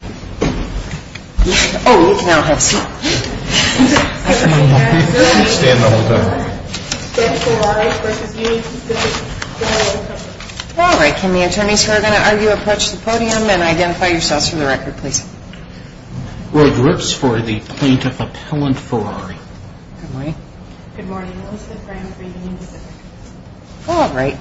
All right. Can the attorneys who are going to argue approach the podium and identify yourselves for the record, please? Roger Ripps for the Plaintiff Appellant Ferrari. Good morning. Good morning. Melissa Graham for Union Pacific. All right.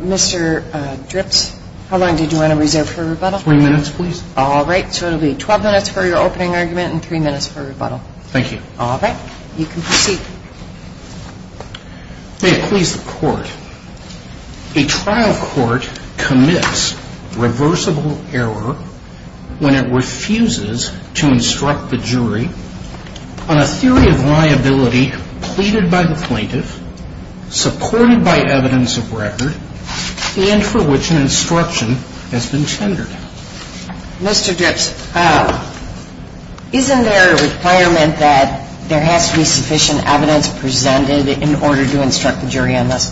Mr. Ripps, how long did you want to reserve for rebuttal? Three minutes, please. All right. So it will be 12 minutes for your opening argument and three minutes for rebuttal. Thank you. All right. You can proceed. May it please the Court. A trial court commits reversible error when it refuses to instruct the jury on a theory of liability pleaded by the plaintiff, supported by evidence of record, and for which an instruction has been tendered. Mr. Ripps, isn't there a requirement that there has to be sufficient evidence presented in order to instruct the jury on this?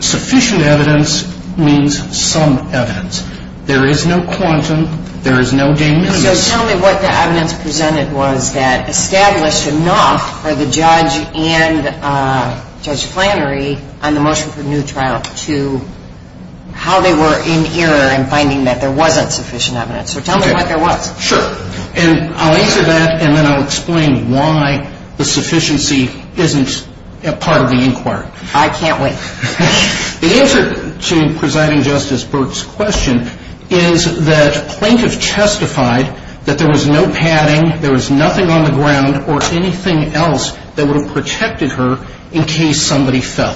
Sufficient evidence means some evidence. There is no quantum. There is no de minimis. So tell me what the evidence presented was that established enough for the judge and Judge Flannery on the motion for new trial to how they were in error in finding that there wasn't sufficient evidence. So tell me what there was. Sure. And I'll answer that and then I'll explain why the sufficiency isn't part of the inquiry. I can't wait. The answer to Presiding Justice Burke's question is that plaintiff testified that there was no padding, there was nothing on the ground or anything else that would have protected her in case somebody fell.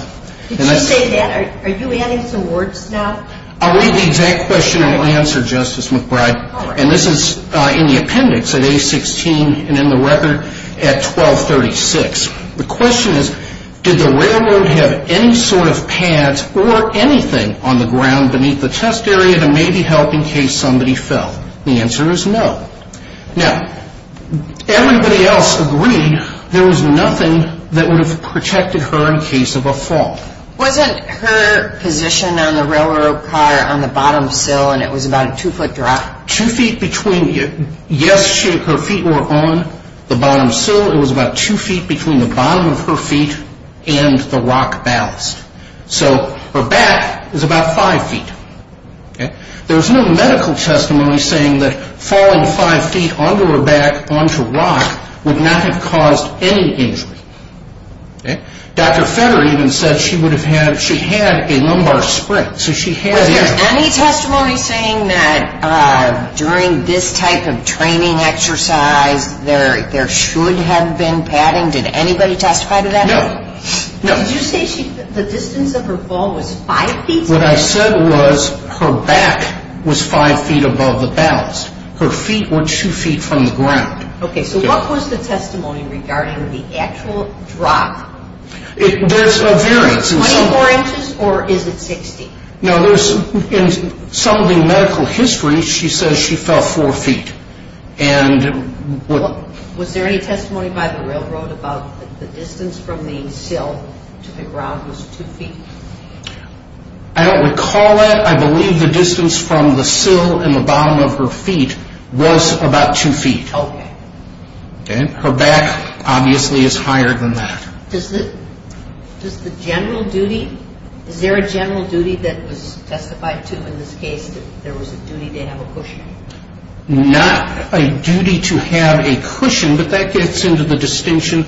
Did she say that? Are you adding some words now? I'll read the exact question and answer, Justice McBride. All right. And this is in the appendix at A16 and in the record at 1236. The question is, did the railroad have any sort of pads or anything on the ground beneath the test area to maybe help in case somebody fell? The answer is no. Now, everybody else agreed there was nothing that would have protected her in case of a fall. Wasn't her position on the railroad car on the bottom sill and it was about a two-foot drop? Yes, her feet were on the bottom sill. It was about two feet between the bottom of her feet and the rock ballast. So her back is about five feet. There was no medical testimony saying that falling five feet onto her back onto rock would not have caused any injury. Dr. Fetter even said she had a lumbar sprain. Was there any testimony saying that during this type of training exercise there should have been padding? Did anybody testify to that? No. Did you say the distance of her fall was five feet? What I said was her back was five feet above the ballast. Her feet were two feet from the ground. Okay, so what was the testimony regarding the actual drop? There's a variance. Is it 24 inches or is it 60? No, in some of the medical history she says she fell four feet. Was there any testimony by the railroad about the distance from the sill to the ground was two feet? I don't recall that. I believe the distance from the sill and the bottom of her feet was about two feet. Okay. Her back obviously is higher than that. Does the general duty, is there a general duty that was testified to in this case that there was a duty to have a cushion? Not a duty to have a cushion, but that gets into the distinction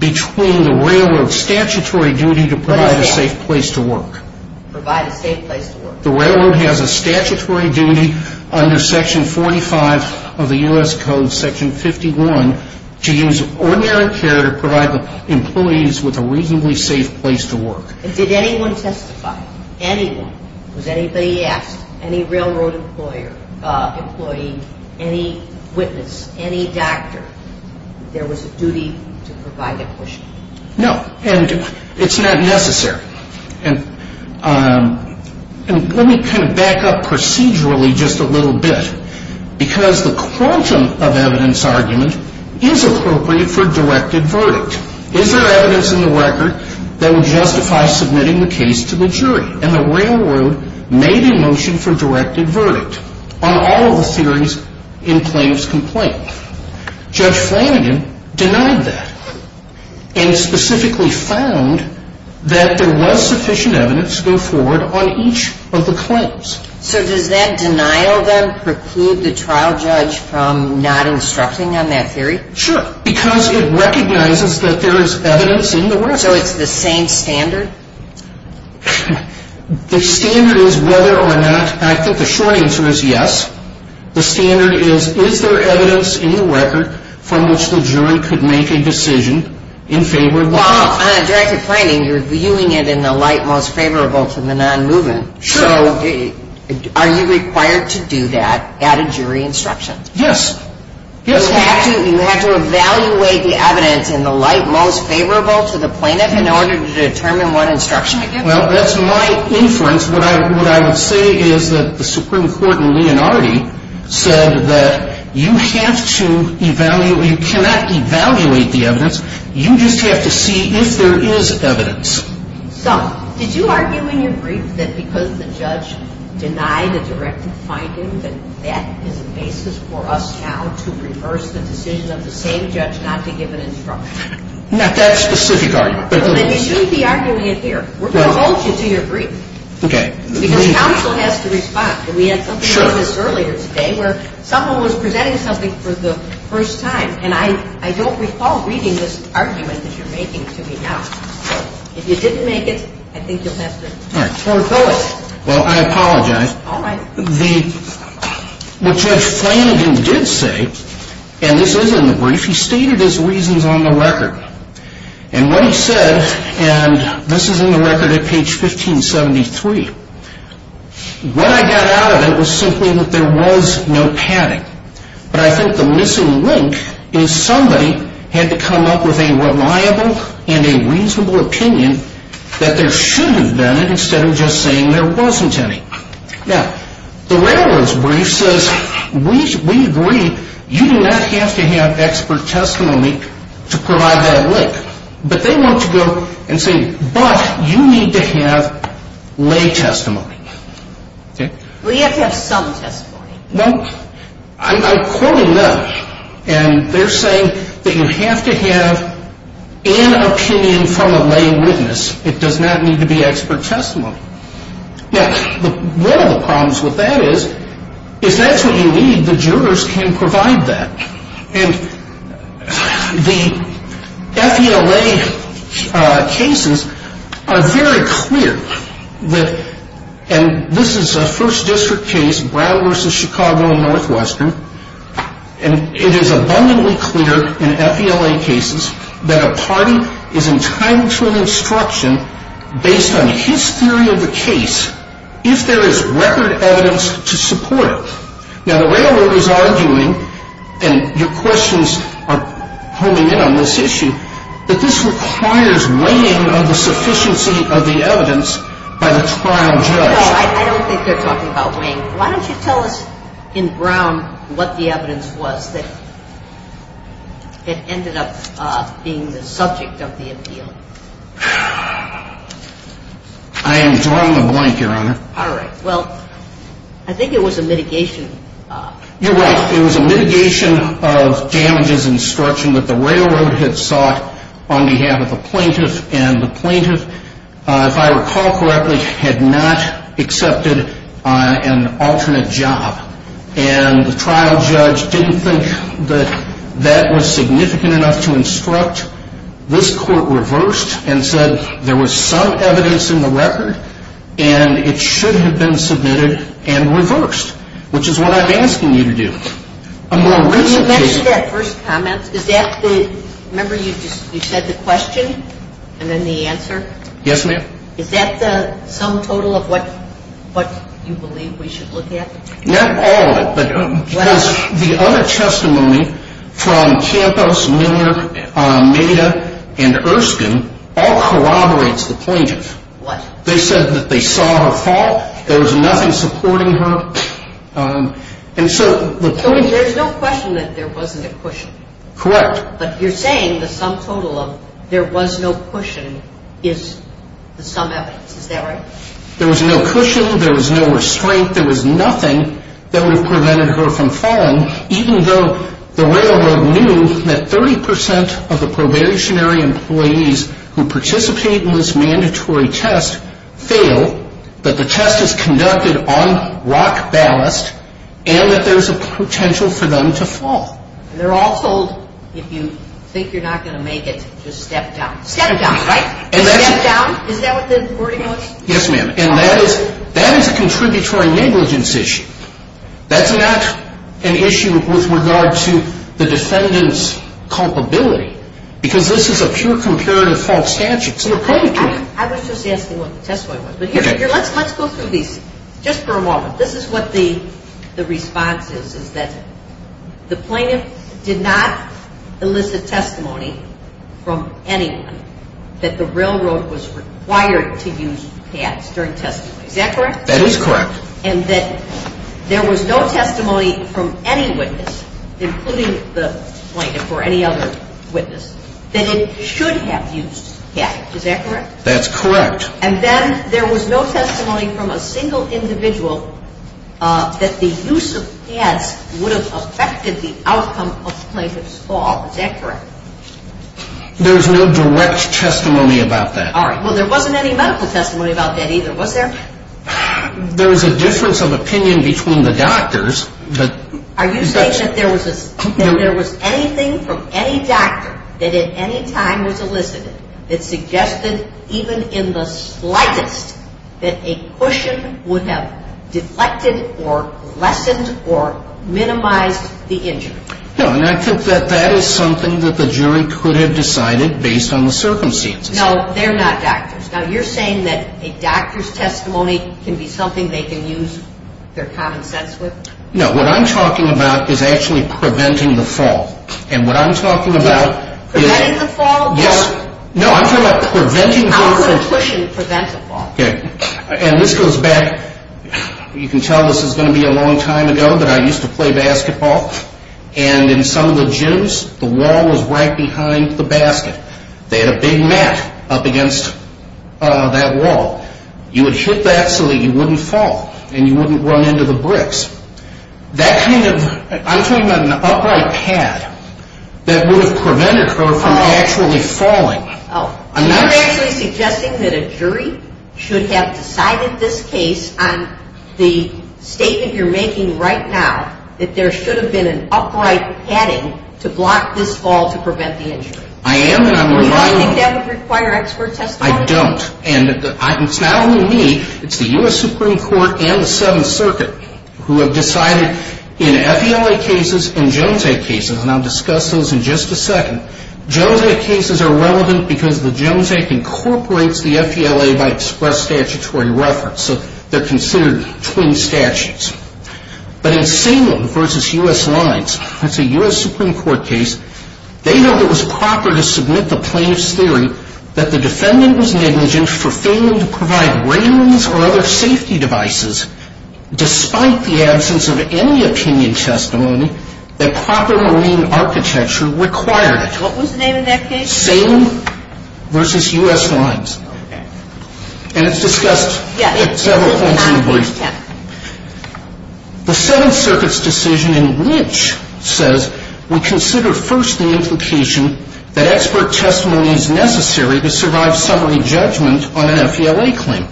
between the railroad statutory duty to provide a safe place to work. Provide a safe place to work. The railroad has a statutory duty under Section 45 of the U.S. Code, Section 51, to use ordinary care to provide the employees with a reasonably safe place to work. Did anyone testify, anyone? Was anybody asked, any railroad employee, any witness, any doctor, there was a duty to provide a cushion? No. And it's not necessary. And let me kind of back up procedurally just a little bit, because the quantum of evidence argument is appropriate for directed verdict. Is there evidence in the record that would justify submitting the case to the jury? And the railroad made a motion for directed verdict on all of the theories in Claims Complaint. Judge Flanagan denied that and specifically found that there was sufficient evidence to go forward on each of the claims. So does that denial then preclude the trial judge from not instructing on that theory? Sure, because it recognizes that there is evidence in the record. So it's the same standard? The standard is whether or not, I think the short answer is yes. The standard is, is there evidence in the record from which the jury could make a decision in favor of the plaintiff? Well, on a directed plaintiff, you're viewing it in the light most favorable to the non-movement. Sure. So are you required to do that at a jury instruction? Yes. You have to evaluate the evidence in the light most favorable to the plaintiff in order to determine what instruction to give them? Well, that's my inference. What I would say is that the Supreme Court in Leonardi said that you have to evaluate, you cannot evaluate the evidence. You just have to see if there is evidence. So did you argue in your brief that because the judge denied a directed finding, that that is the basis for us now to reverse the decision of the same judge not to give an instruction? Not that specific argument. Then you shouldn't be arguing it there. We're going to hold you to your brief. Okay. Because counsel has to respond. We had something like this earlier today where someone was presenting something for the first time, and I don't recall reading this argument that you're making to me now. If you didn't make it, I think you'll have to forego it. Well, I apologize. All right. What Judge Flanagan did say, and this is in the brief, he stated his reasons on the record. And what he said, and this is in the record at page 1573, what I got out of it was simply that there was no padding. But I think the missing link is somebody had to come up with a reliable and a reasonable opinion that there should have been instead of just saying there wasn't any. Now, the Railroad's brief says we agree you do not have to have expert testimony to provide that link. But they want to go and say, but you need to have lay testimony. Well, you have to have some testimony. Well, I'm quoting them, and they're saying that you have to have an opinion from a lay witness. It does not need to be expert testimony. Now, one of the problems with that is, if that's what you need, the jurors can provide that. And the FELA cases are very clear. And this is a First District case, Brown v. Chicago and Northwestern. And it is abundantly clear in FELA cases that a party is entitled to an instruction based on his theory of the case if there is record evidence to support it. Now, the Railroad is arguing, and your questions are homing in on this issue, that this requires weighing of the sufficiency of the evidence by the trial judge. No, I don't think they're talking about weighing. Why don't you tell us in Brown what the evidence was that ended up being the subject of the appeal? I am drawing a blank, Your Honor. All right. Well, I think it was a mitigation. You're right. It was a mitigation of damages instruction that the Railroad had sought on behalf of the plaintiff. And the plaintiff, if I recall correctly, had not accepted an alternate job. And the trial judge didn't think that that was significant enough to instruct. This Court reversed and said there was some evidence in the record, and it should have been submitted and reversed, which is what I'm asking you to do. You mentioned that first comment. Remember you said the question and then the answer? Yes, ma'am. Is that the sum total of what you believe we should look at? Not all of it. Because the other testimony from Campos, Miller, Meda, and Erskine all corroborates the plaintiff. What? They said that they saw her fall. There was nothing supporting her. So there's no question that there wasn't a cushion. Correct. But you're saying the sum total of there was no cushion is the sum evidence. Is that right? There was no cushion. There was no restraint. There was nothing that would have prevented her from falling, even though the Railroad knew that 30 percent of the probationary employees who participate in this mandatory test fail, that the test is conducted on rock ballast, and that there's a potential for them to fall. They're all told if you think you're not going to make it, just step down. Step down, right? Step down? Is that what the wording was? Yes, ma'am. And that is a contributory negligence issue. That's not an issue with regard to the defendant's culpability, because this is a pure comparative false statute. I was just asking what the testimony was. But here, let's go through these just for a moment. This is what the response is, is that the plaintiff did not elicit testimony from anyone that the Railroad was required to use pads during testimony. Is that correct? That is correct. And that there was no testimony from any witness, including the plaintiff or any other witness, that it should have used pads. Is that correct? That's correct. And then there was no testimony from a single individual that the use of pads would have affected the outcome of the plaintiff's fall. Is that correct? There's no direct testimony about that. All right. Well, there wasn't any medical testimony about that either, was there? There is a difference of opinion between the doctors. Are you saying that there was anything from any doctor that at any time was elicited that suggested even in the slightest that a cushion would have deflected or lessened or minimized the injury? No, and I think that that is something that the jury could have decided based on the circumstances. No, they're not doctors. Now, you're saying that a doctor's testimony can be something they can use their common sense with? No, what I'm talking about is actually preventing the fall. And what I'm talking about is... Preventing the fall? Yes. No, I'm talking about preventing... How could a cushion prevent a fall? Okay. And this goes back, you can tell this is going to be a long time ago, but I used to play basketball. And in some of the gyms, the wall was right behind the basket. They had a big mat up against that wall. You would hit that so that you wouldn't fall and you wouldn't run into the bricks. That kind of... I'm talking about an upright pad that would have prevented her from actually falling. Oh, you're actually suggesting that a jury should have decided this case on the statement you're making right now, that there should have been an upright padding to block this fall to prevent the injury. I am and I'm... You don't think that would require expert testimony? I don't. And it's not only me, it's the U.S. Supreme Court and the Seventh Circuit who have decided in FELA cases and Jones Act cases, and I'll discuss those in just a second, Jones Act cases are relevant because the Jones Act incorporates the FELA by express statutory reference. So they're considered twin statutes. But in Salem v. U.S. Lines, that's a U.S. Supreme Court case, they held it was proper to submit the plaintiff's theory that the defendant was negligent for failing to provide reins or other safety devices despite the absence of any opinion testimony that proper marine architecture required it. What was the name of that case? Salem v. U.S. Lines. And it's discussed at several points in the brief. The Seventh Circuit's decision in Lynch says, we consider first the implication that expert testimony is necessary to survive summary judgment on an FELA claim.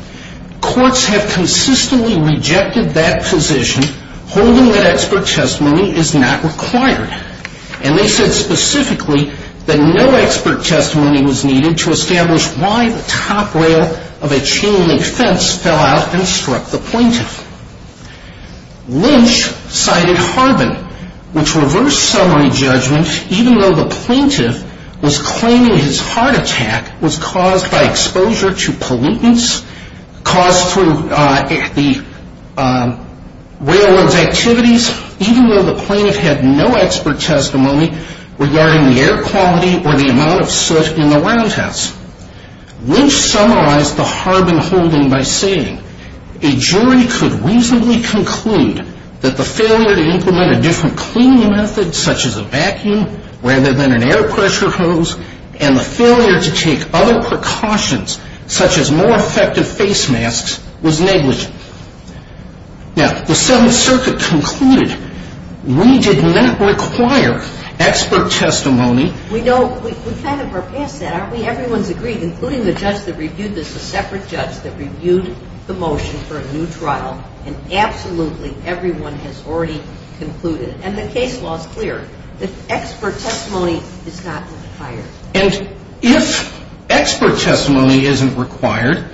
Courts have consistently rejected that position, holding that expert testimony is not required. And they said specifically that no expert testimony was needed to establish why the top rail of a chain link fence fell out and struck the plaintiff. Lynch cited Harbin, which reversed summary judgment even though the plaintiff was claiming his heart attack was caused by exposure to pollutants, caused through the railroad's activities, even though the plaintiff had no expert testimony regarding the air quality or the amount of soot in the roundhouse. Lynch summarized the Harbin holding by saying, a jury could reasonably conclude that the failure to implement a different cleaning method, such as a vacuum, rather than an air pressure hose, and the failure to take other precautions, such as more effective face masks, was negligent. Now, the Seventh Circuit concluded we did not require expert testimony. We know, we kind of are past that, aren't we? Everyone's agreed, including the judge that reviewed this, a separate judge that reviewed the motion for a new trial, and absolutely everyone has already concluded, and the case law is clear, that expert testimony is not required. And if expert testimony isn't required,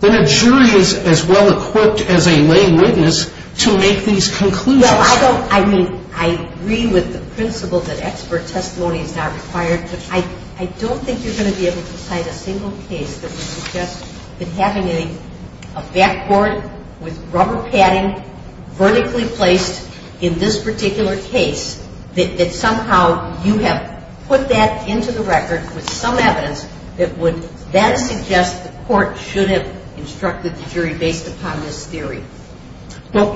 then a jury is as well equipped as a lay witness to make these conclusions. Well, I don't, I mean, I agree with the principle that expert testimony is not required, but I don't think you're going to be able to cite a single case that would suggest that having a backboard with rubber padding vertically placed in this particular case, that somehow you have put that into the record with some evidence that would then suggest the court should have instructed the jury based upon this theory. Well,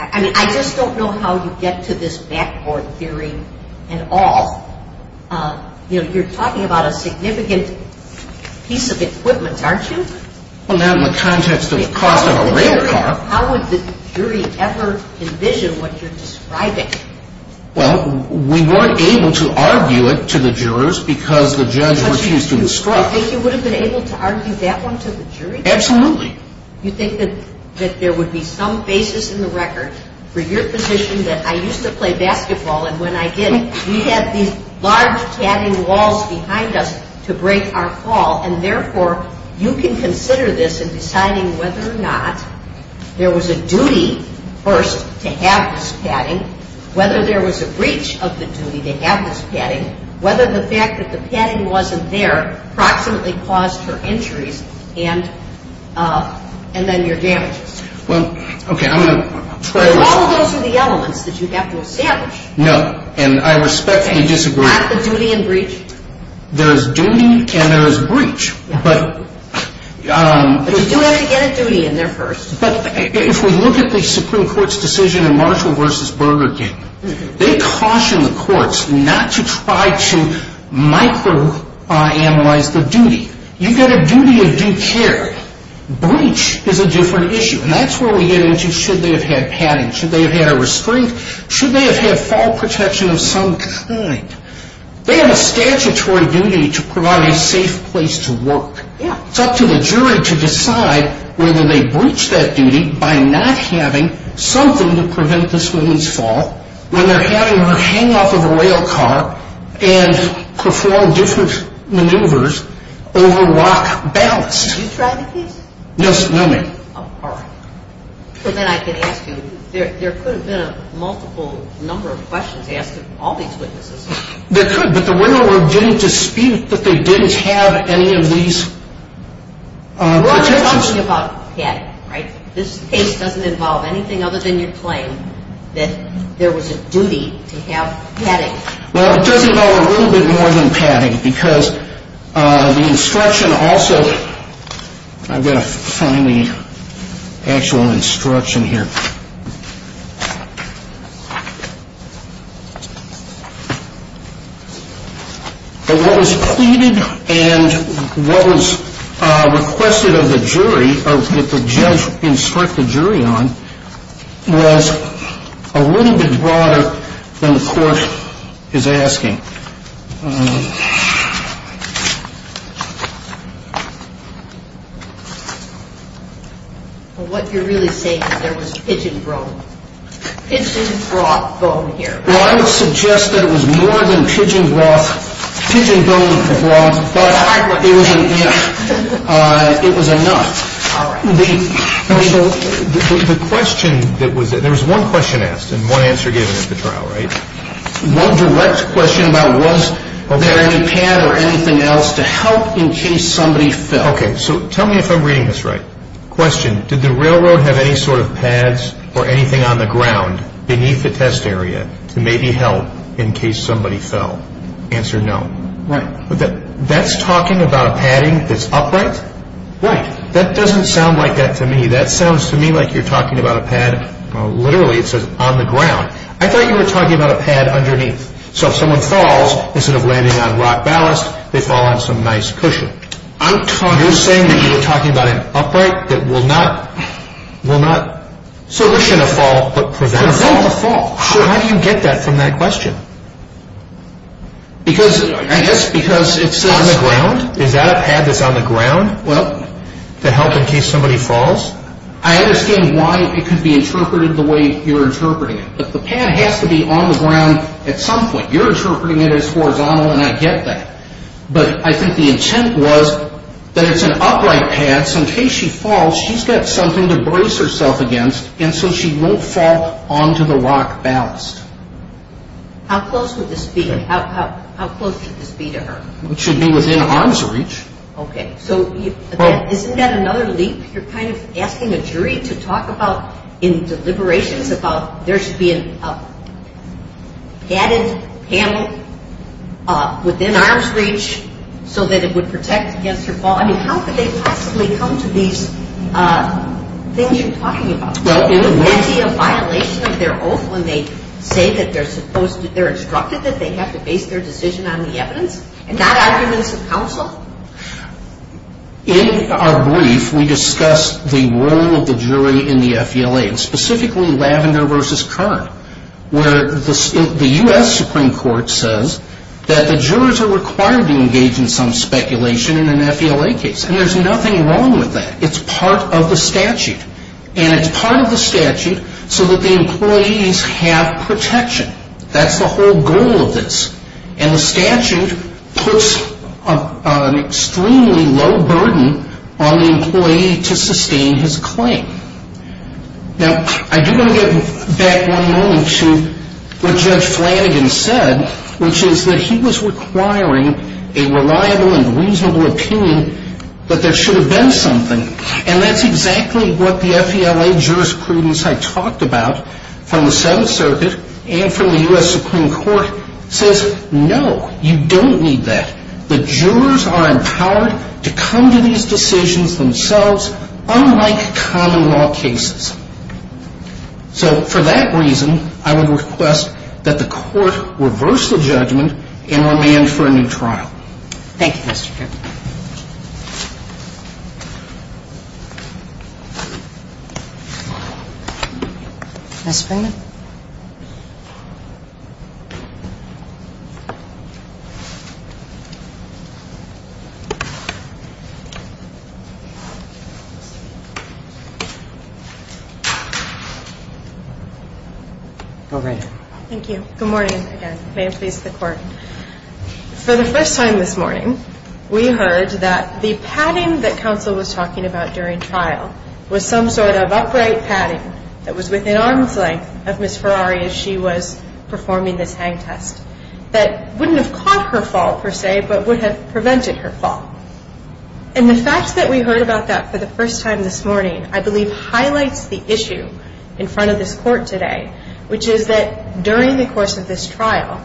I mean, I just don't know how you get to this backboard theory at all. You know, you're talking about a significant piece of equipment, aren't you? Well, not in the context of the cost of a railcar. How would the jury ever envision what you're describing? Well, we weren't able to argue it to the jurors because the judge refused to instruct. Do you think you would have been able to argue that one to the jury? Absolutely. Do you think that there would be some basis in the record for your position that I used to play basketball, and when I didn't, we had these large padding walls behind us to break our fall, and therefore you can consider this in deciding whether or not there was a duty first to have this padding, whether there was a breach of the duty to have this padding, and whether the fact that the padding wasn't there approximately caused her injuries and then your damages? Well, okay, I'm going to try to... Because all of those are the elements that you have to establish. No, and I respectfully disagree. Okay, is that the duty and breach? There's duty and there's breach, but... But you do have to get a duty in there first. But if we look at the Supreme Court's decision in Marshall v. Burgergate, they caution the courts not to try to microanalyze the duty. You get a duty of due care. Breach is a different issue, and that's where we get into should they have had padding, should they have had a restraint, should they have had fall protection of some kind. They have a statutory duty to provide a safe place to work. It's up to the jury to decide whether they breach that duty by not having something to prevent this woman's fall when they're having her hang off of a rail car and perform different maneuvers over rock ballast. Did you try the case? No, ma'am. Oh, all right. Well, then I can ask you, there could have been a multiple number of questions asked of all these witnesses. There could, but the railroad didn't dispute that they didn't have any of these protections. It's mostly about padding, right? This case doesn't involve anything other than your claim that there was a duty to have padding. Well, it does involve a little bit more than padding because the instruction also, I've got to find the actual instruction here. But what was pleaded and what was requested of the jury, or what the judge instructed the jury on, was a little bit broader than the court is asking. Well, what you're really saying is there was pigeon broth, pigeon broth bone here. Well, I would suggest that it was more than pigeon broth, pigeon bone broth, but it was enough. All right. The question that was, there was one question asked and one answer given at the trial, right? Was there any pad or anything else to help in case somebody fell? Okay, so tell me if I'm reading this right. Question, did the railroad have any sort of pads or anything on the ground beneath the test area to maybe help in case somebody fell? Answer, no. Right. That's talking about padding that's upright? Right. That doesn't sound like that to me. That sounds to me like you're talking about a pad, literally it says, on the ground. I thought you were talking about a pad underneath. So if someone falls, instead of landing on rock ballast, they fall on some nice cushion. I'm talking. You're saying that you were talking about an upright that will not, will not. So it shouldn't fall, but prevent a fall. Prevent a fall, sure. How do you get that from that question? Because, I guess because it says. On the ground? Is that a pad that's on the ground? Well. To help in case somebody falls? I understand why it could be interpreted the way you're interpreting it. The pad has to be on the ground at some point. You're interpreting it as horizontal and I get that. But I think the intent was that it's an upright pad, so in case she falls, she's got something to brace herself against and so she won't fall onto the rock ballast. How close would this be? How close would this be to her? It should be within arm's reach. Okay. So isn't that another leap? You're kind of asking a jury to talk about in deliberations about there should be a padded panel within arm's reach so that it would protect against her fall. I mean, how could they possibly come to these things you're talking about? Well, in a way. Would it be a violation of their oath when they say that they're supposed to, they're instructed that they have to base their decision on the evidence and not arguments of counsel? In our brief, we discuss the role of the jury in the FELA, and specifically Lavender v. Curran, where the U.S. Supreme Court says that the jurors are required to engage in some speculation in an FELA case. And there's nothing wrong with that. It's part of the statute. And it's part of the statute so that the employees have protection. That's the whole goal of this. And the statute puts an extremely low burden on the employee to sustain his claim. Now, I do want to get back one moment to what Judge Flanagan said, which is that he was requiring a reliable and reasonable opinion that there should have been something. And that's exactly what the FELA jurisprudence I talked about from the Seventh Circuit and from the U.S. Supreme Court says, no, you don't need that. The jurors are empowered to come to these decisions themselves unlike common law cases. So for that reason, I would request that the Court reverse the judgment and remand for a new trial. Thank you, Mr. Chairman. Ms. Freeman? Go right ahead. Thank you. Good morning again. May it please the Court. For the first time this morning, we heard that the padding that counsel was talking about during trial was some sort of upright padding that was within arm's length of Ms. Ferrari as she was performing this hang test that wouldn't have caught her fall, per se, but would have prevented her fall. And the fact that we heard about that for the first time this morning, I believe highlights the issue in front of this Court today, which is that during the course of this trial,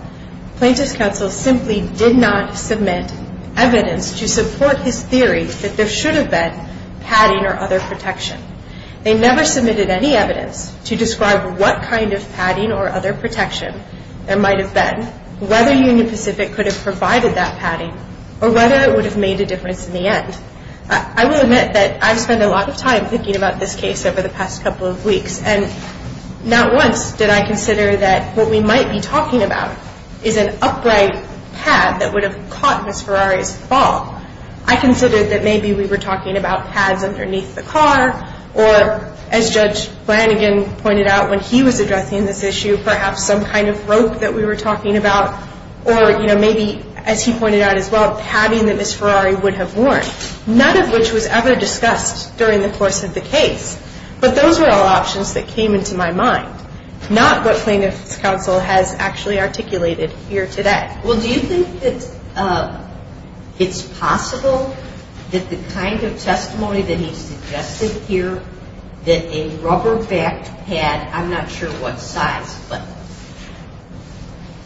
plaintiff's counsel simply did not submit evidence to support his theory that there should have been padding or other protection. They never submitted any evidence to describe what kind of padding or other protection there might have been, whether Union Pacific could have provided that padding, or whether it would have made a difference in the end. I will admit that I've spent a lot of time thinking about this case over the past couple of weeks, and not once did I consider that what we might be talking about is an upright pad that would have caught Ms. Ferrari's fall. I considered that maybe we were talking about pads underneath the car, or as Judge Flanagan pointed out when he was addressing this issue, perhaps some kind of rope that we were talking about, or maybe, as he pointed out as well, padding that Ms. Ferrari would have worn, none of which was ever discussed during the course of the case. But those were all options that came into my mind, not what plaintiff's counsel has actually articulated here today. Well, do you think that it's possible that the kind of testimony that he suggested here, that a rubber-backed pad, I'm not sure what size,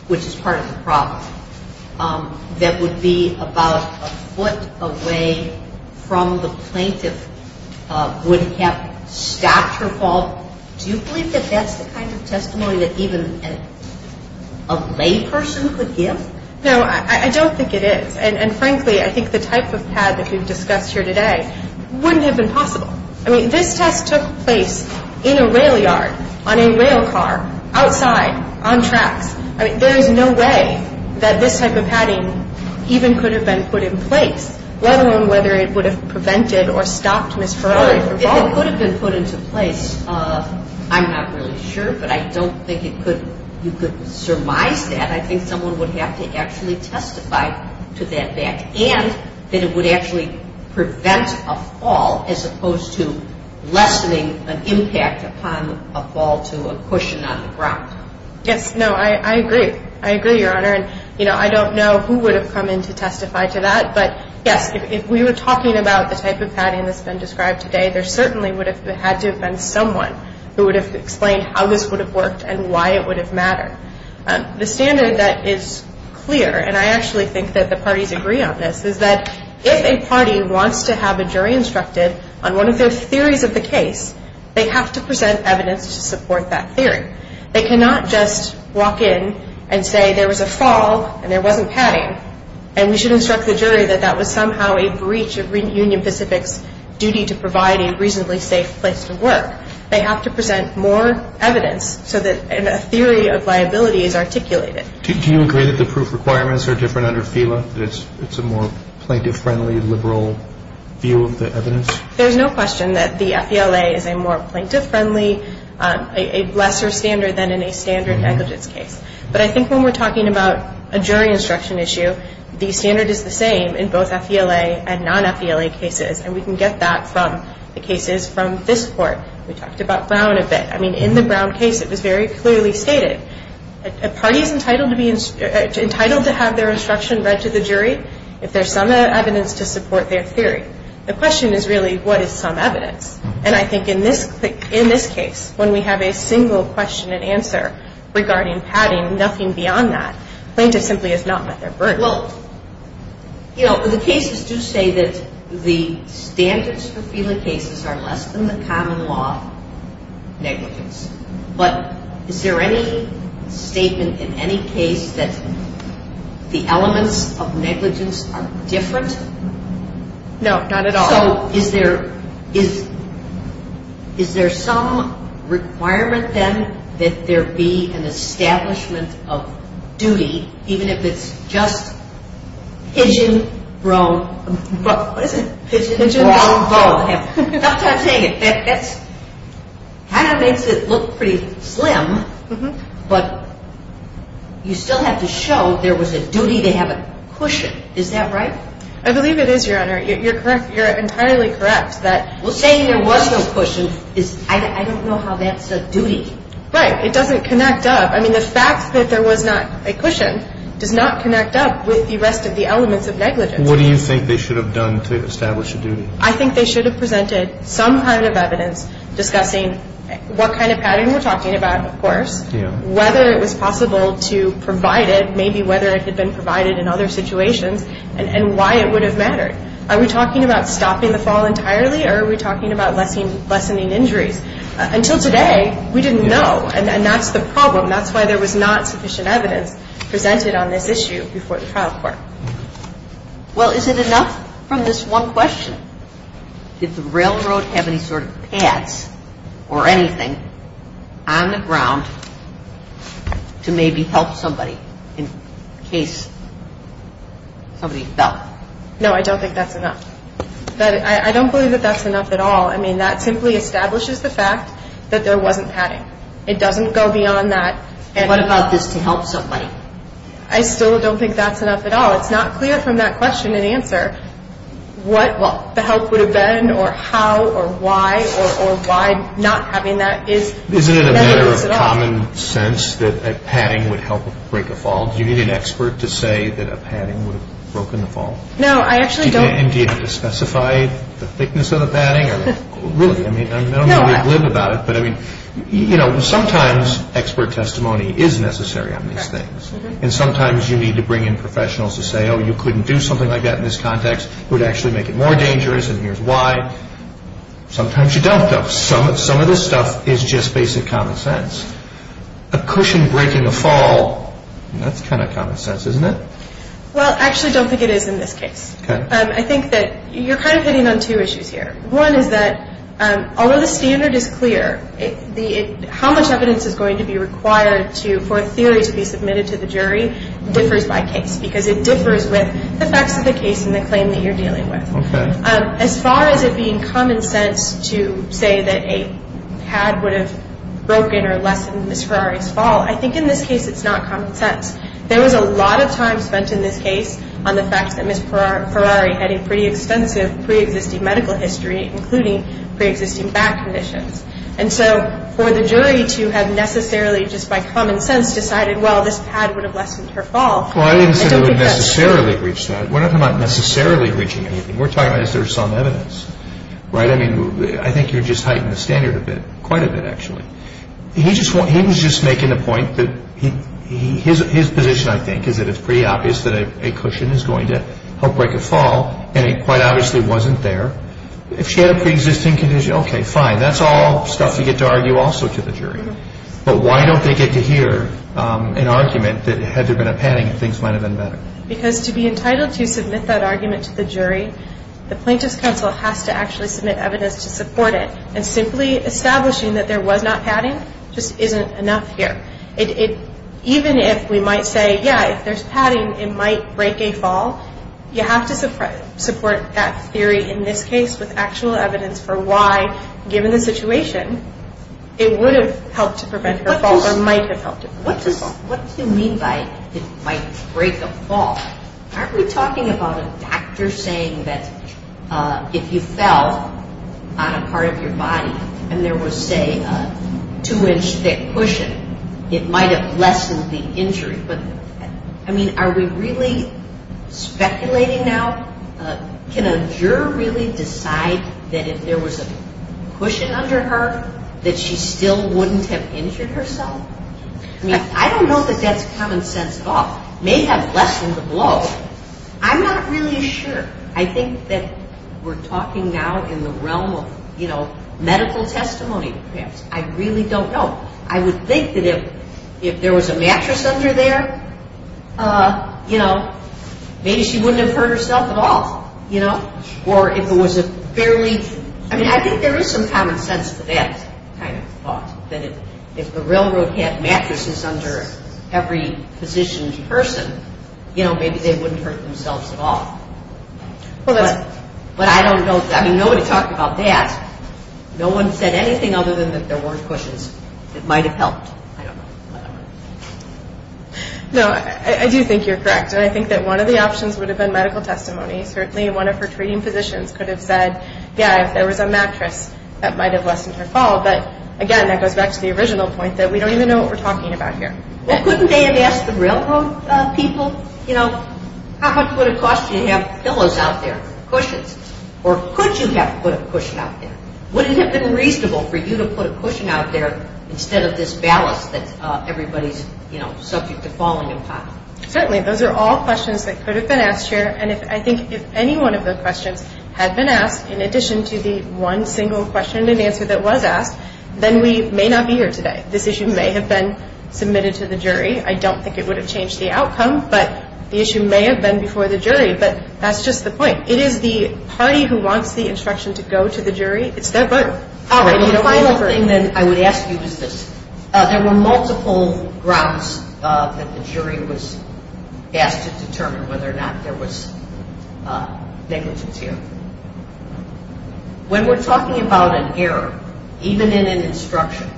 which is part of the problem, that would be about a foot away from the plaintiff would have stopped her fall? Do you believe that that's the kind of testimony that even a layperson could give? No, I don't think it is. And frankly, I think the type of pad that we've discussed here today wouldn't have been possible. I mean, this test took place in a rail yard, on a rail car, outside, on tracks. I mean, there is no way that this type of padding even could have been put in place, let alone whether it would have prevented or stopped Ms. Ferrari from falling. If it could have been put into place, I'm not really sure, but I don't think you could surmise that. I think someone would have to actually testify to that fact, and that it would actually prevent a fall, as opposed to lessening an impact upon a fall to a cushion on the ground. Yes, no, I agree. I agree, Your Honor, and I don't know who would have come in to testify to that, but yes, if we were talking about the type of padding that's been described today, there certainly would have had to have been someone who would have explained how this would have worked and why it would have mattered. The standard that is clear, and I actually think that the parties agree on this, is that if a party wants to have a jury instructed on one of their theories of the case, they have to present evidence to support that theory. They cannot just walk in and say there was a fall and there wasn't padding, and we should instruct the jury that that was somehow a breach of Union Pacific's duty to provide a reasonably safe place to work. They have to present more evidence so that a theory of liability is articulated. Do you agree that the proof requirements are different under FELA, that it's a more plaintiff-friendly, liberal view of the evidence? There's no question that the FELA is a more plaintiff-friendly, a lesser standard than in a standard negligence case. But I think when we're talking about a jury instruction issue, the standard is the same in both FELA and non-FELA cases, and we can get that from the cases from this Court. We talked about Brown a bit. I mean, in the Brown case, it was very clearly stated. A party is entitled to have their instruction read to the jury if there's some evidence to support their theory. The question is really, what is some evidence? And I think in this case, when we have a single question and answer regarding padding and nothing beyond that, plaintiff simply has not met their burden. Well, you know, the cases do say that the standards for FELA cases are less than the common law negligence. But is there any statement in any case that the elements of negligence are different? No, not at all. So is there some requirement, then, that there be an establishment of duty, even if it's just pigeon-brown bow? What is it? Pigeon-brown bow. Tough time saying it. That kind of makes it look pretty slim, but you still have to show there was a duty to have a cushion. Is that right? I believe it is, Your Honor. You're correct. You're entirely correct. Well, saying there was no cushion, I don't know how that's a duty. Right. It doesn't connect up. I mean, the fact that there was not a cushion does not connect up with the rest of the elements of negligence. What do you think they should have done to establish a duty? I think they should have presented some kind of evidence discussing what kind of padding we're talking about, of course, whether it was possible to provide it, maybe whether it had been provided in other situations, and why it would have mattered. Are we talking about stopping the fall entirely, or are we talking about lessening injuries? Until today, we didn't know, and that's the problem. That's why there was not sufficient evidence presented on this issue before the trial court. Well, is it enough from this one question? Did the railroad have any sort of pads or anything on the ground to maybe help somebody in case somebody fell? No, I don't think that's enough. I don't believe that that's enough at all. I mean, that simply establishes the fact that there wasn't padding. It doesn't go beyond that. And what about this to help somebody? I still don't think that's enough at all. It's not clear from that question and answer what the help would have been or how or why or why not having that is negligence at all. Isn't it a matter of common sense that padding would help break a fall? Do you need an expert to say that a padding would have broken the fall? No, I actually don't. And do you have to specify the thickness of the padding? Really, I mean, I don't know where you live about it, but I mean, you know, sometimes expert testimony is necessary on these things, and sometimes you need to bring in professionals to say, oh, you couldn't do something like that in this context. It would actually make it more dangerous, and here's why. Sometimes you don't, though. Some of this stuff is just basic common sense. A cushion breaking a fall, that's kind of common sense, isn't it? Well, actually, I don't think it is in this case. I think that you're kind of hitting on two issues here. One is that although the standard is clear, how much evidence is going to be required for a theory to be submitted to the jury differs by case because it differs with the facts of the case and the claim that you're dealing with. As far as it being common sense to say that a pad would have broken or lessened Ms. Ferrari's fall, I think in this case it's not common sense. There was a lot of time spent in this case on the fact that Ms. Ferrari had a pretty extensive preexisting medical history, including preexisting back conditions. And so for the jury to have necessarily just by common sense decided, well, this pad would have lessened her fall, I don't think that's true. Well, I didn't say it would necessarily reach that. We're not talking about necessarily reaching anything. We're talking about is there some evidence, right? I mean, I think you're just heightening the standard a bit, quite a bit, actually. He was just making the point that his position, I think, is that it's pretty obvious that a cushion is going to help break a fall, and it quite obviously wasn't there. If she had a preexisting condition, okay, fine, that's all stuff you get to argue also to the jury. But why don't they get to hear an argument that had there been a padding, things might have been better? Because to be entitled to submit that argument to the jury, the plaintiff's counsel has to actually submit evidence to support it. And simply establishing that there was not padding just isn't enough here. Even if we might say, yeah, if there's padding, it might break a fall, you have to support that theory in this case with actual evidence for why, given the situation, it would have helped to prevent her fall or might have helped to prevent her fall. What do you mean by it might break a fall? Aren't we talking about a doctor saying that if you fell on a part of your body and there was, say, a two-inch thick cushion, it might have lessened the injury? I mean, are we really speculating now? Can a juror really decide that if there was a cushion under her, that she still wouldn't have injured herself? I mean, I don't know that that's common sense at all. It may have lessened the blow. I'm not really sure. I think that we're talking now in the realm of, you know, medical testimony perhaps. I really don't know. I would think that if there was a mattress under there, you know, maybe she wouldn't have hurt herself at all, you know. Or if it was a fairly, I mean, I think there is some common sense for that kind of thought, that if the railroad had mattresses under every positioned person, you know, maybe they wouldn't hurt themselves at all. But I don't know. I mean, nobody talked about that. No one said anything other than that there weren't cushions. It might have helped. I don't know. No, I do think you're correct, and I think that one of the options would have been medical testimony. Certainly one of her treating physicians could have said, yeah, if there was a mattress, that might have lessened her fall. But, again, that goes back to the original point that we don't even know what we're talking about here. Well, couldn't they have asked the railroad people, you know, how much would it cost you to have pillows out there, cushions? Or could you have put a cushion out there? Would it have been reasonable for you to put a cushion out there instead of this ballast that everybody's, you know, subject to falling upon? Certainly. Those are all questions that could have been asked here, and I think if any one of the questions had been asked in addition to the one single question and answer that was asked, then we may not be here today. This issue may have been submitted to the jury. I don't think it would have changed the outcome, but the issue may have been before the jury. But that's just the point. It is the party who wants the instruction to go to the jury. It's their burden. All right. The final thing that I would ask you is this. There were multiple grounds that the jury was asked to determine whether or not there was negligence here. When we're talking about an error, even in an instruction,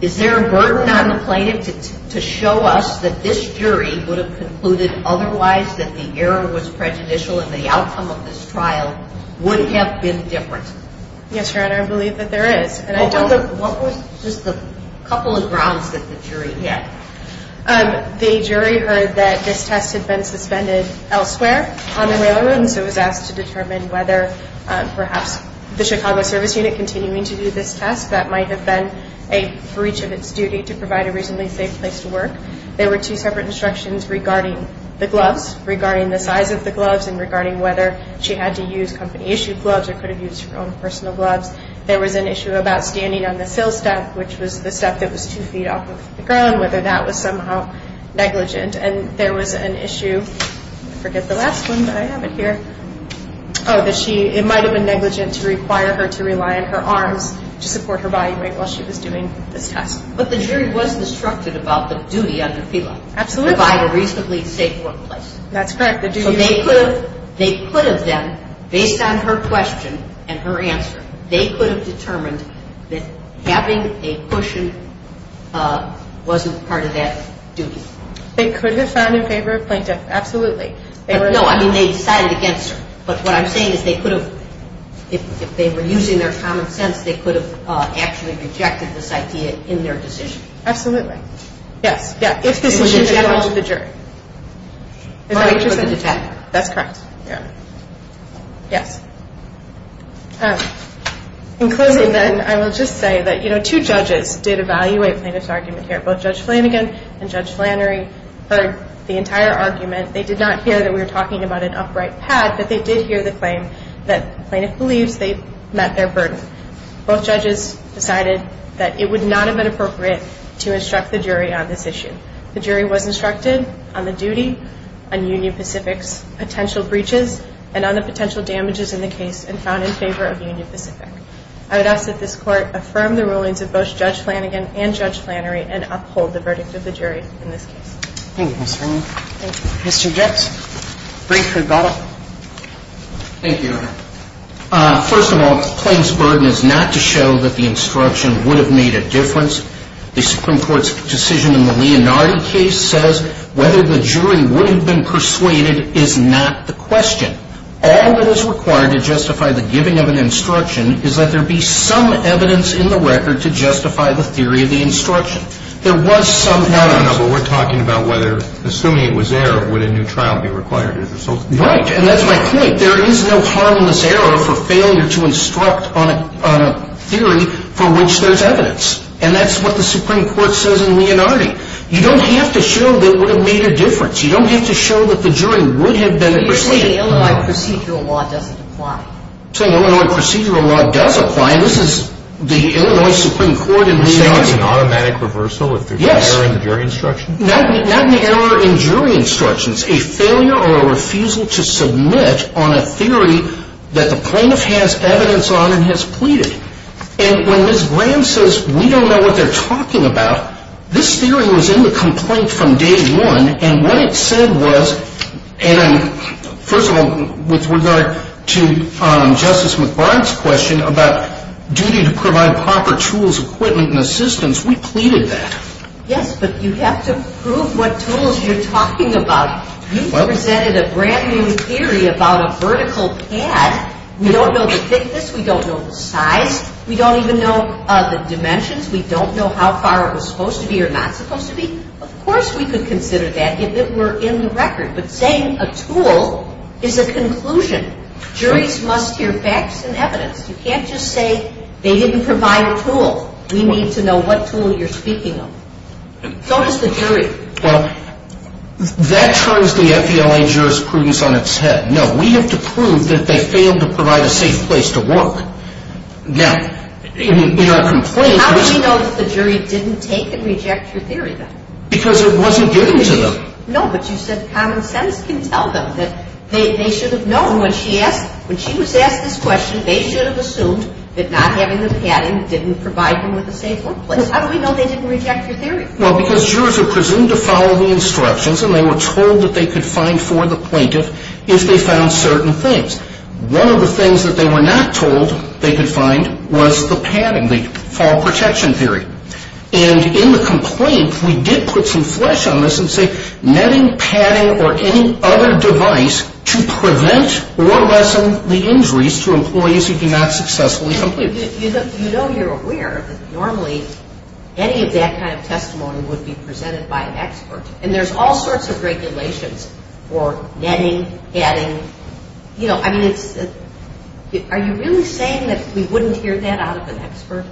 is there a burden on the plaintiff to show us that this jury would have concluded otherwise, that the error was prejudicial and the outcome of this trial would have been different? Yes, Your Honor, I believe that there is. What was just the couple of grounds that the jury had? The jury heard that this test had been suspended elsewhere on the railroad, and so was asked to determine whether perhaps the Chicago Service Unit continuing to do this test, that might have been a breach of its duty to provide a reasonably safe place to work. There were two separate instructions regarding the gloves, regarding the size of the gloves and regarding whether she had to use company-issued gloves or could have used her own personal gloves. There was an issue about standing on the sill step, which was the step that was two feet off of the ground, whether that was somehow negligent. And there was an issue, I forget the last one, but I have it here, oh, that she, it might have been negligent to require her to rely on her arms to support her body weight while she was doing this test. But the jury was instructed about the duty under FELA. Absolutely. Provide a reasonably safe workplace. That's correct. So they could have then, based on her question and her answer, they could have determined that having a cushion wasn't part of that duty. They could have signed in favor of plaintiff. Absolutely. No, I mean, they decided against her. But what I'm saying is they could have, if they were using their common sense, they could have actually rejected this idea in their decision. Absolutely. Yes. Yes. If this issue had gone to the jury. That's correct. Yes. In closing then, I will just say that, you know, two judges did evaluate plaintiff's argument here. Both Judge Flanagan and Judge Flannery heard the entire argument. They did not hear that we were talking about an upright pad, but they did hear the claim that the plaintiff believes they met their burden. Both judges decided that it would not have been appropriate to instruct the jury on this issue. The jury was instructed on the duty, on Union Pacific's potential breaches, and on the potential damages in the case and found in favor of Union Pacific. I would ask that this court affirm the rulings of both Judge Flanagan and Judge Flannery and uphold the verdict of the jury in this case. Thank you, Ms. Freeman. Thank you. Mr. Jicks, brief rebuttal. Thank you, Your Honor. First of all, the plaintiff's burden is not to show that the instruction would have made a difference. The Supreme Court's decision in the Leonardi case says whether the jury would have been persuaded is not the question. All that is required to justify the giving of an instruction is that there be some evidence in the record to justify the theory of the instruction. There was some evidence. No, no, no. We're talking about whether, assuming it was there, would a new trial be required. Right. And that's my point. There is no harmless error for failure to instruct on a theory for which there's evidence. And that's what the Supreme Court says in Leonardi. You don't have to show that it would have made a difference. You don't have to show that the jury would have been persuaded. You're saying the Illinois procedural law doesn't apply. I'm saying Illinois procedural law does apply. This is the Illinois Supreme Court in Leonardi. You're saying it's an automatic reversal if there's an error in the jury instruction? Yes. Not an error in jury instructions. A failure or a refusal to submit on a theory that the plaintiff has evidence on and has pleaded. And when Ms. Graham says we don't know what they're talking about, this theory was in the complaint from day one, and what it said was, and first of all, with regard to Justice McBarn's question about duty to provide proper tools, equipment, and assistance, we pleaded that. Yes, but you have to prove what tools you're talking about. You presented a brand-new theory about a vertical pad. We don't know the thickness. We don't know the size. We don't even know the dimensions. We don't know how far it was supposed to be or not supposed to be. Of course we could consider that if it were in the record. But saying a tool is a conclusion. Juries must hear facts and evidence. You can't just say they didn't provide a tool. We need to know what tool you're speaking of. So does the jury. Well, that turns the FBLA jurisprudence on its head. No, we have to prove that they failed to provide a safe place to work. Now, in our complaint, we said- How do we know that the jury didn't take and reject your theory then? Because it wasn't given to them. No, but you said common sense can tell them that they should have known when she asked, when she was asked this question, they should have assumed that not having the padding didn't provide them with a safe workplace. How do we know they didn't reject your theory? Well, because jurors are presumed to follow the instructions, and they were told that they could find for the plaintiff if they found certain things. One of the things that they were not told they could find was the padding, the fall protection theory. And in the complaint, we did put some flesh on this and say netting, padding, or any other device to prevent or lessen the injuries to employees who do not successfully complete. You know you're aware that normally any of that kind of testimony would be presented by an expert, and there's all sorts of regulations for netting, padding. You know, I mean, are you really saying that we wouldn't hear that out of an expert?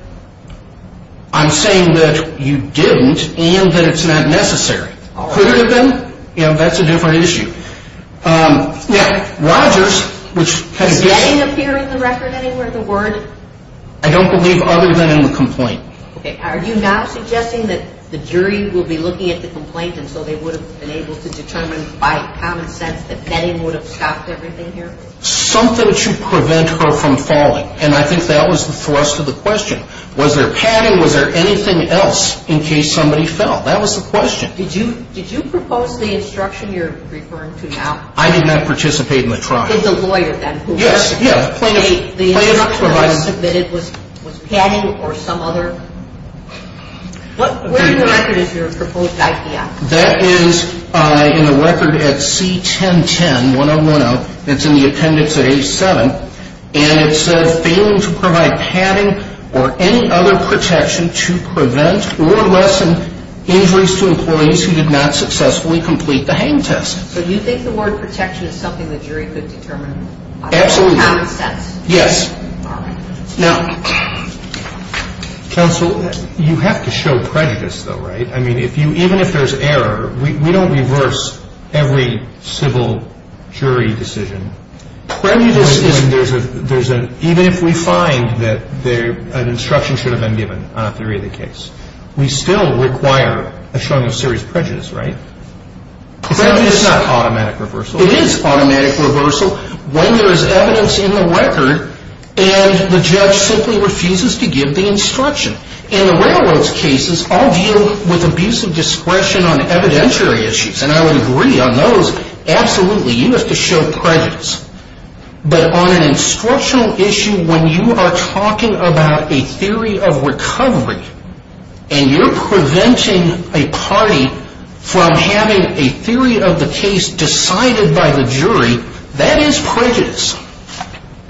I'm saying that you didn't and that it's not necessary. Could it have been? You know, that's a different issue. Now, Rogers, which has... Does netting appear in the record anywhere in the word? I don't believe other than in the complaint. Okay. Are you now suggesting that the jury will be looking at the complaint and so they would have been able to determine by common sense that netting would have stopped everything here? Something to prevent her from falling, and I think that was the thrust of the question. Was there padding? Was there anything else in case somebody fell? That was the question. Did you propose the instruction you're referring to now? I did not participate in the trial. Did the lawyer then? Yes, yeah. The instruction that was submitted was padding or some other? Where in the record is your proposed idea? That is in the record at C1010, 1010. It's in the appendix at age 7, and it says, padding or any other protection to prevent or lessen injuries to employees who did not successfully complete the hang test. So you think the word protection is something the jury could determine? Absolutely. By common sense? Yes. All right. Now, counsel, you have to show prejudice, though, right? I mean, even if there's error, we don't reverse every civil jury decision. Even if we find that an instruction should have been given on a theory of the case, we still require a showing of serious prejudice, right? It's not automatic reversal. It is automatic reversal when there is evidence in the record and the judge simply refuses to give the instruction. In the railroads cases, all deal with abuse of discretion on evidentiary issues, and I would agree on those. Absolutely. You have to show prejudice. But on an instructional issue, when you are talking about a theory of recovery and you're preventing a party from having a theory of the case decided by the jury, that is prejudice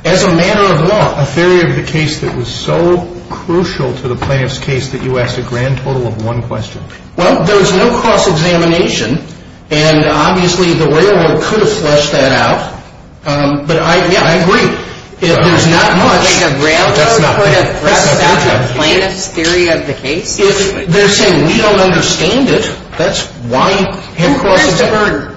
as a matter of law. A theory of the case that was so crucial to the plaintiff's case that you asked a grand total of one question. Well, there's no cross-examination, and obviously the railroad could have fleshed that out. But, yeah, I agree. If there's not much, that's not prejudice. A railroad could have crossed out the plaintiff's theory of the case? If they're saying, we don't understand it, that's why it crosses the burden.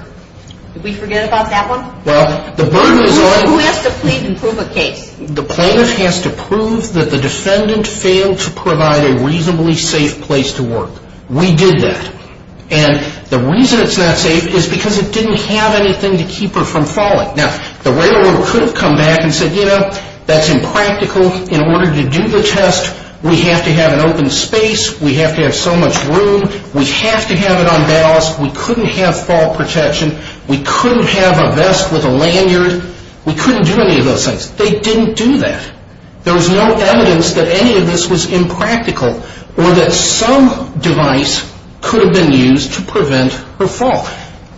Did we forget about that one? Well, the burden is on... Who has to plead and prove a case? The plaintiff has to prove that the defendant failed to provide a reasonably safe place to work. We did that. And the reason it's not safe is because it didn't have anything to keep her from falling. Now, the railroad could have come back and said, you know, that's impractical. In order to do the test, we have to have an open space. We have to have so much room. We have to have it on ballast. We couldn't have fall protection. We couldn't have a vest with a lanyard. We couldn't do any of those things. They didn't do that. There was no evidence that any of this was impractical or that some device could have been used to prevent her fall.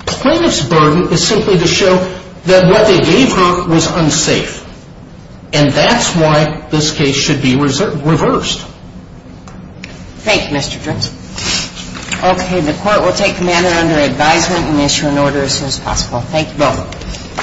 Plaintiff's burden is simply to show that what they gave her was unsafe. And that's why this case should be reversed. Thank you, Mr. Jones. Okay, the court will take the matter under advisement and issue an order as soon as possible. Thank you both.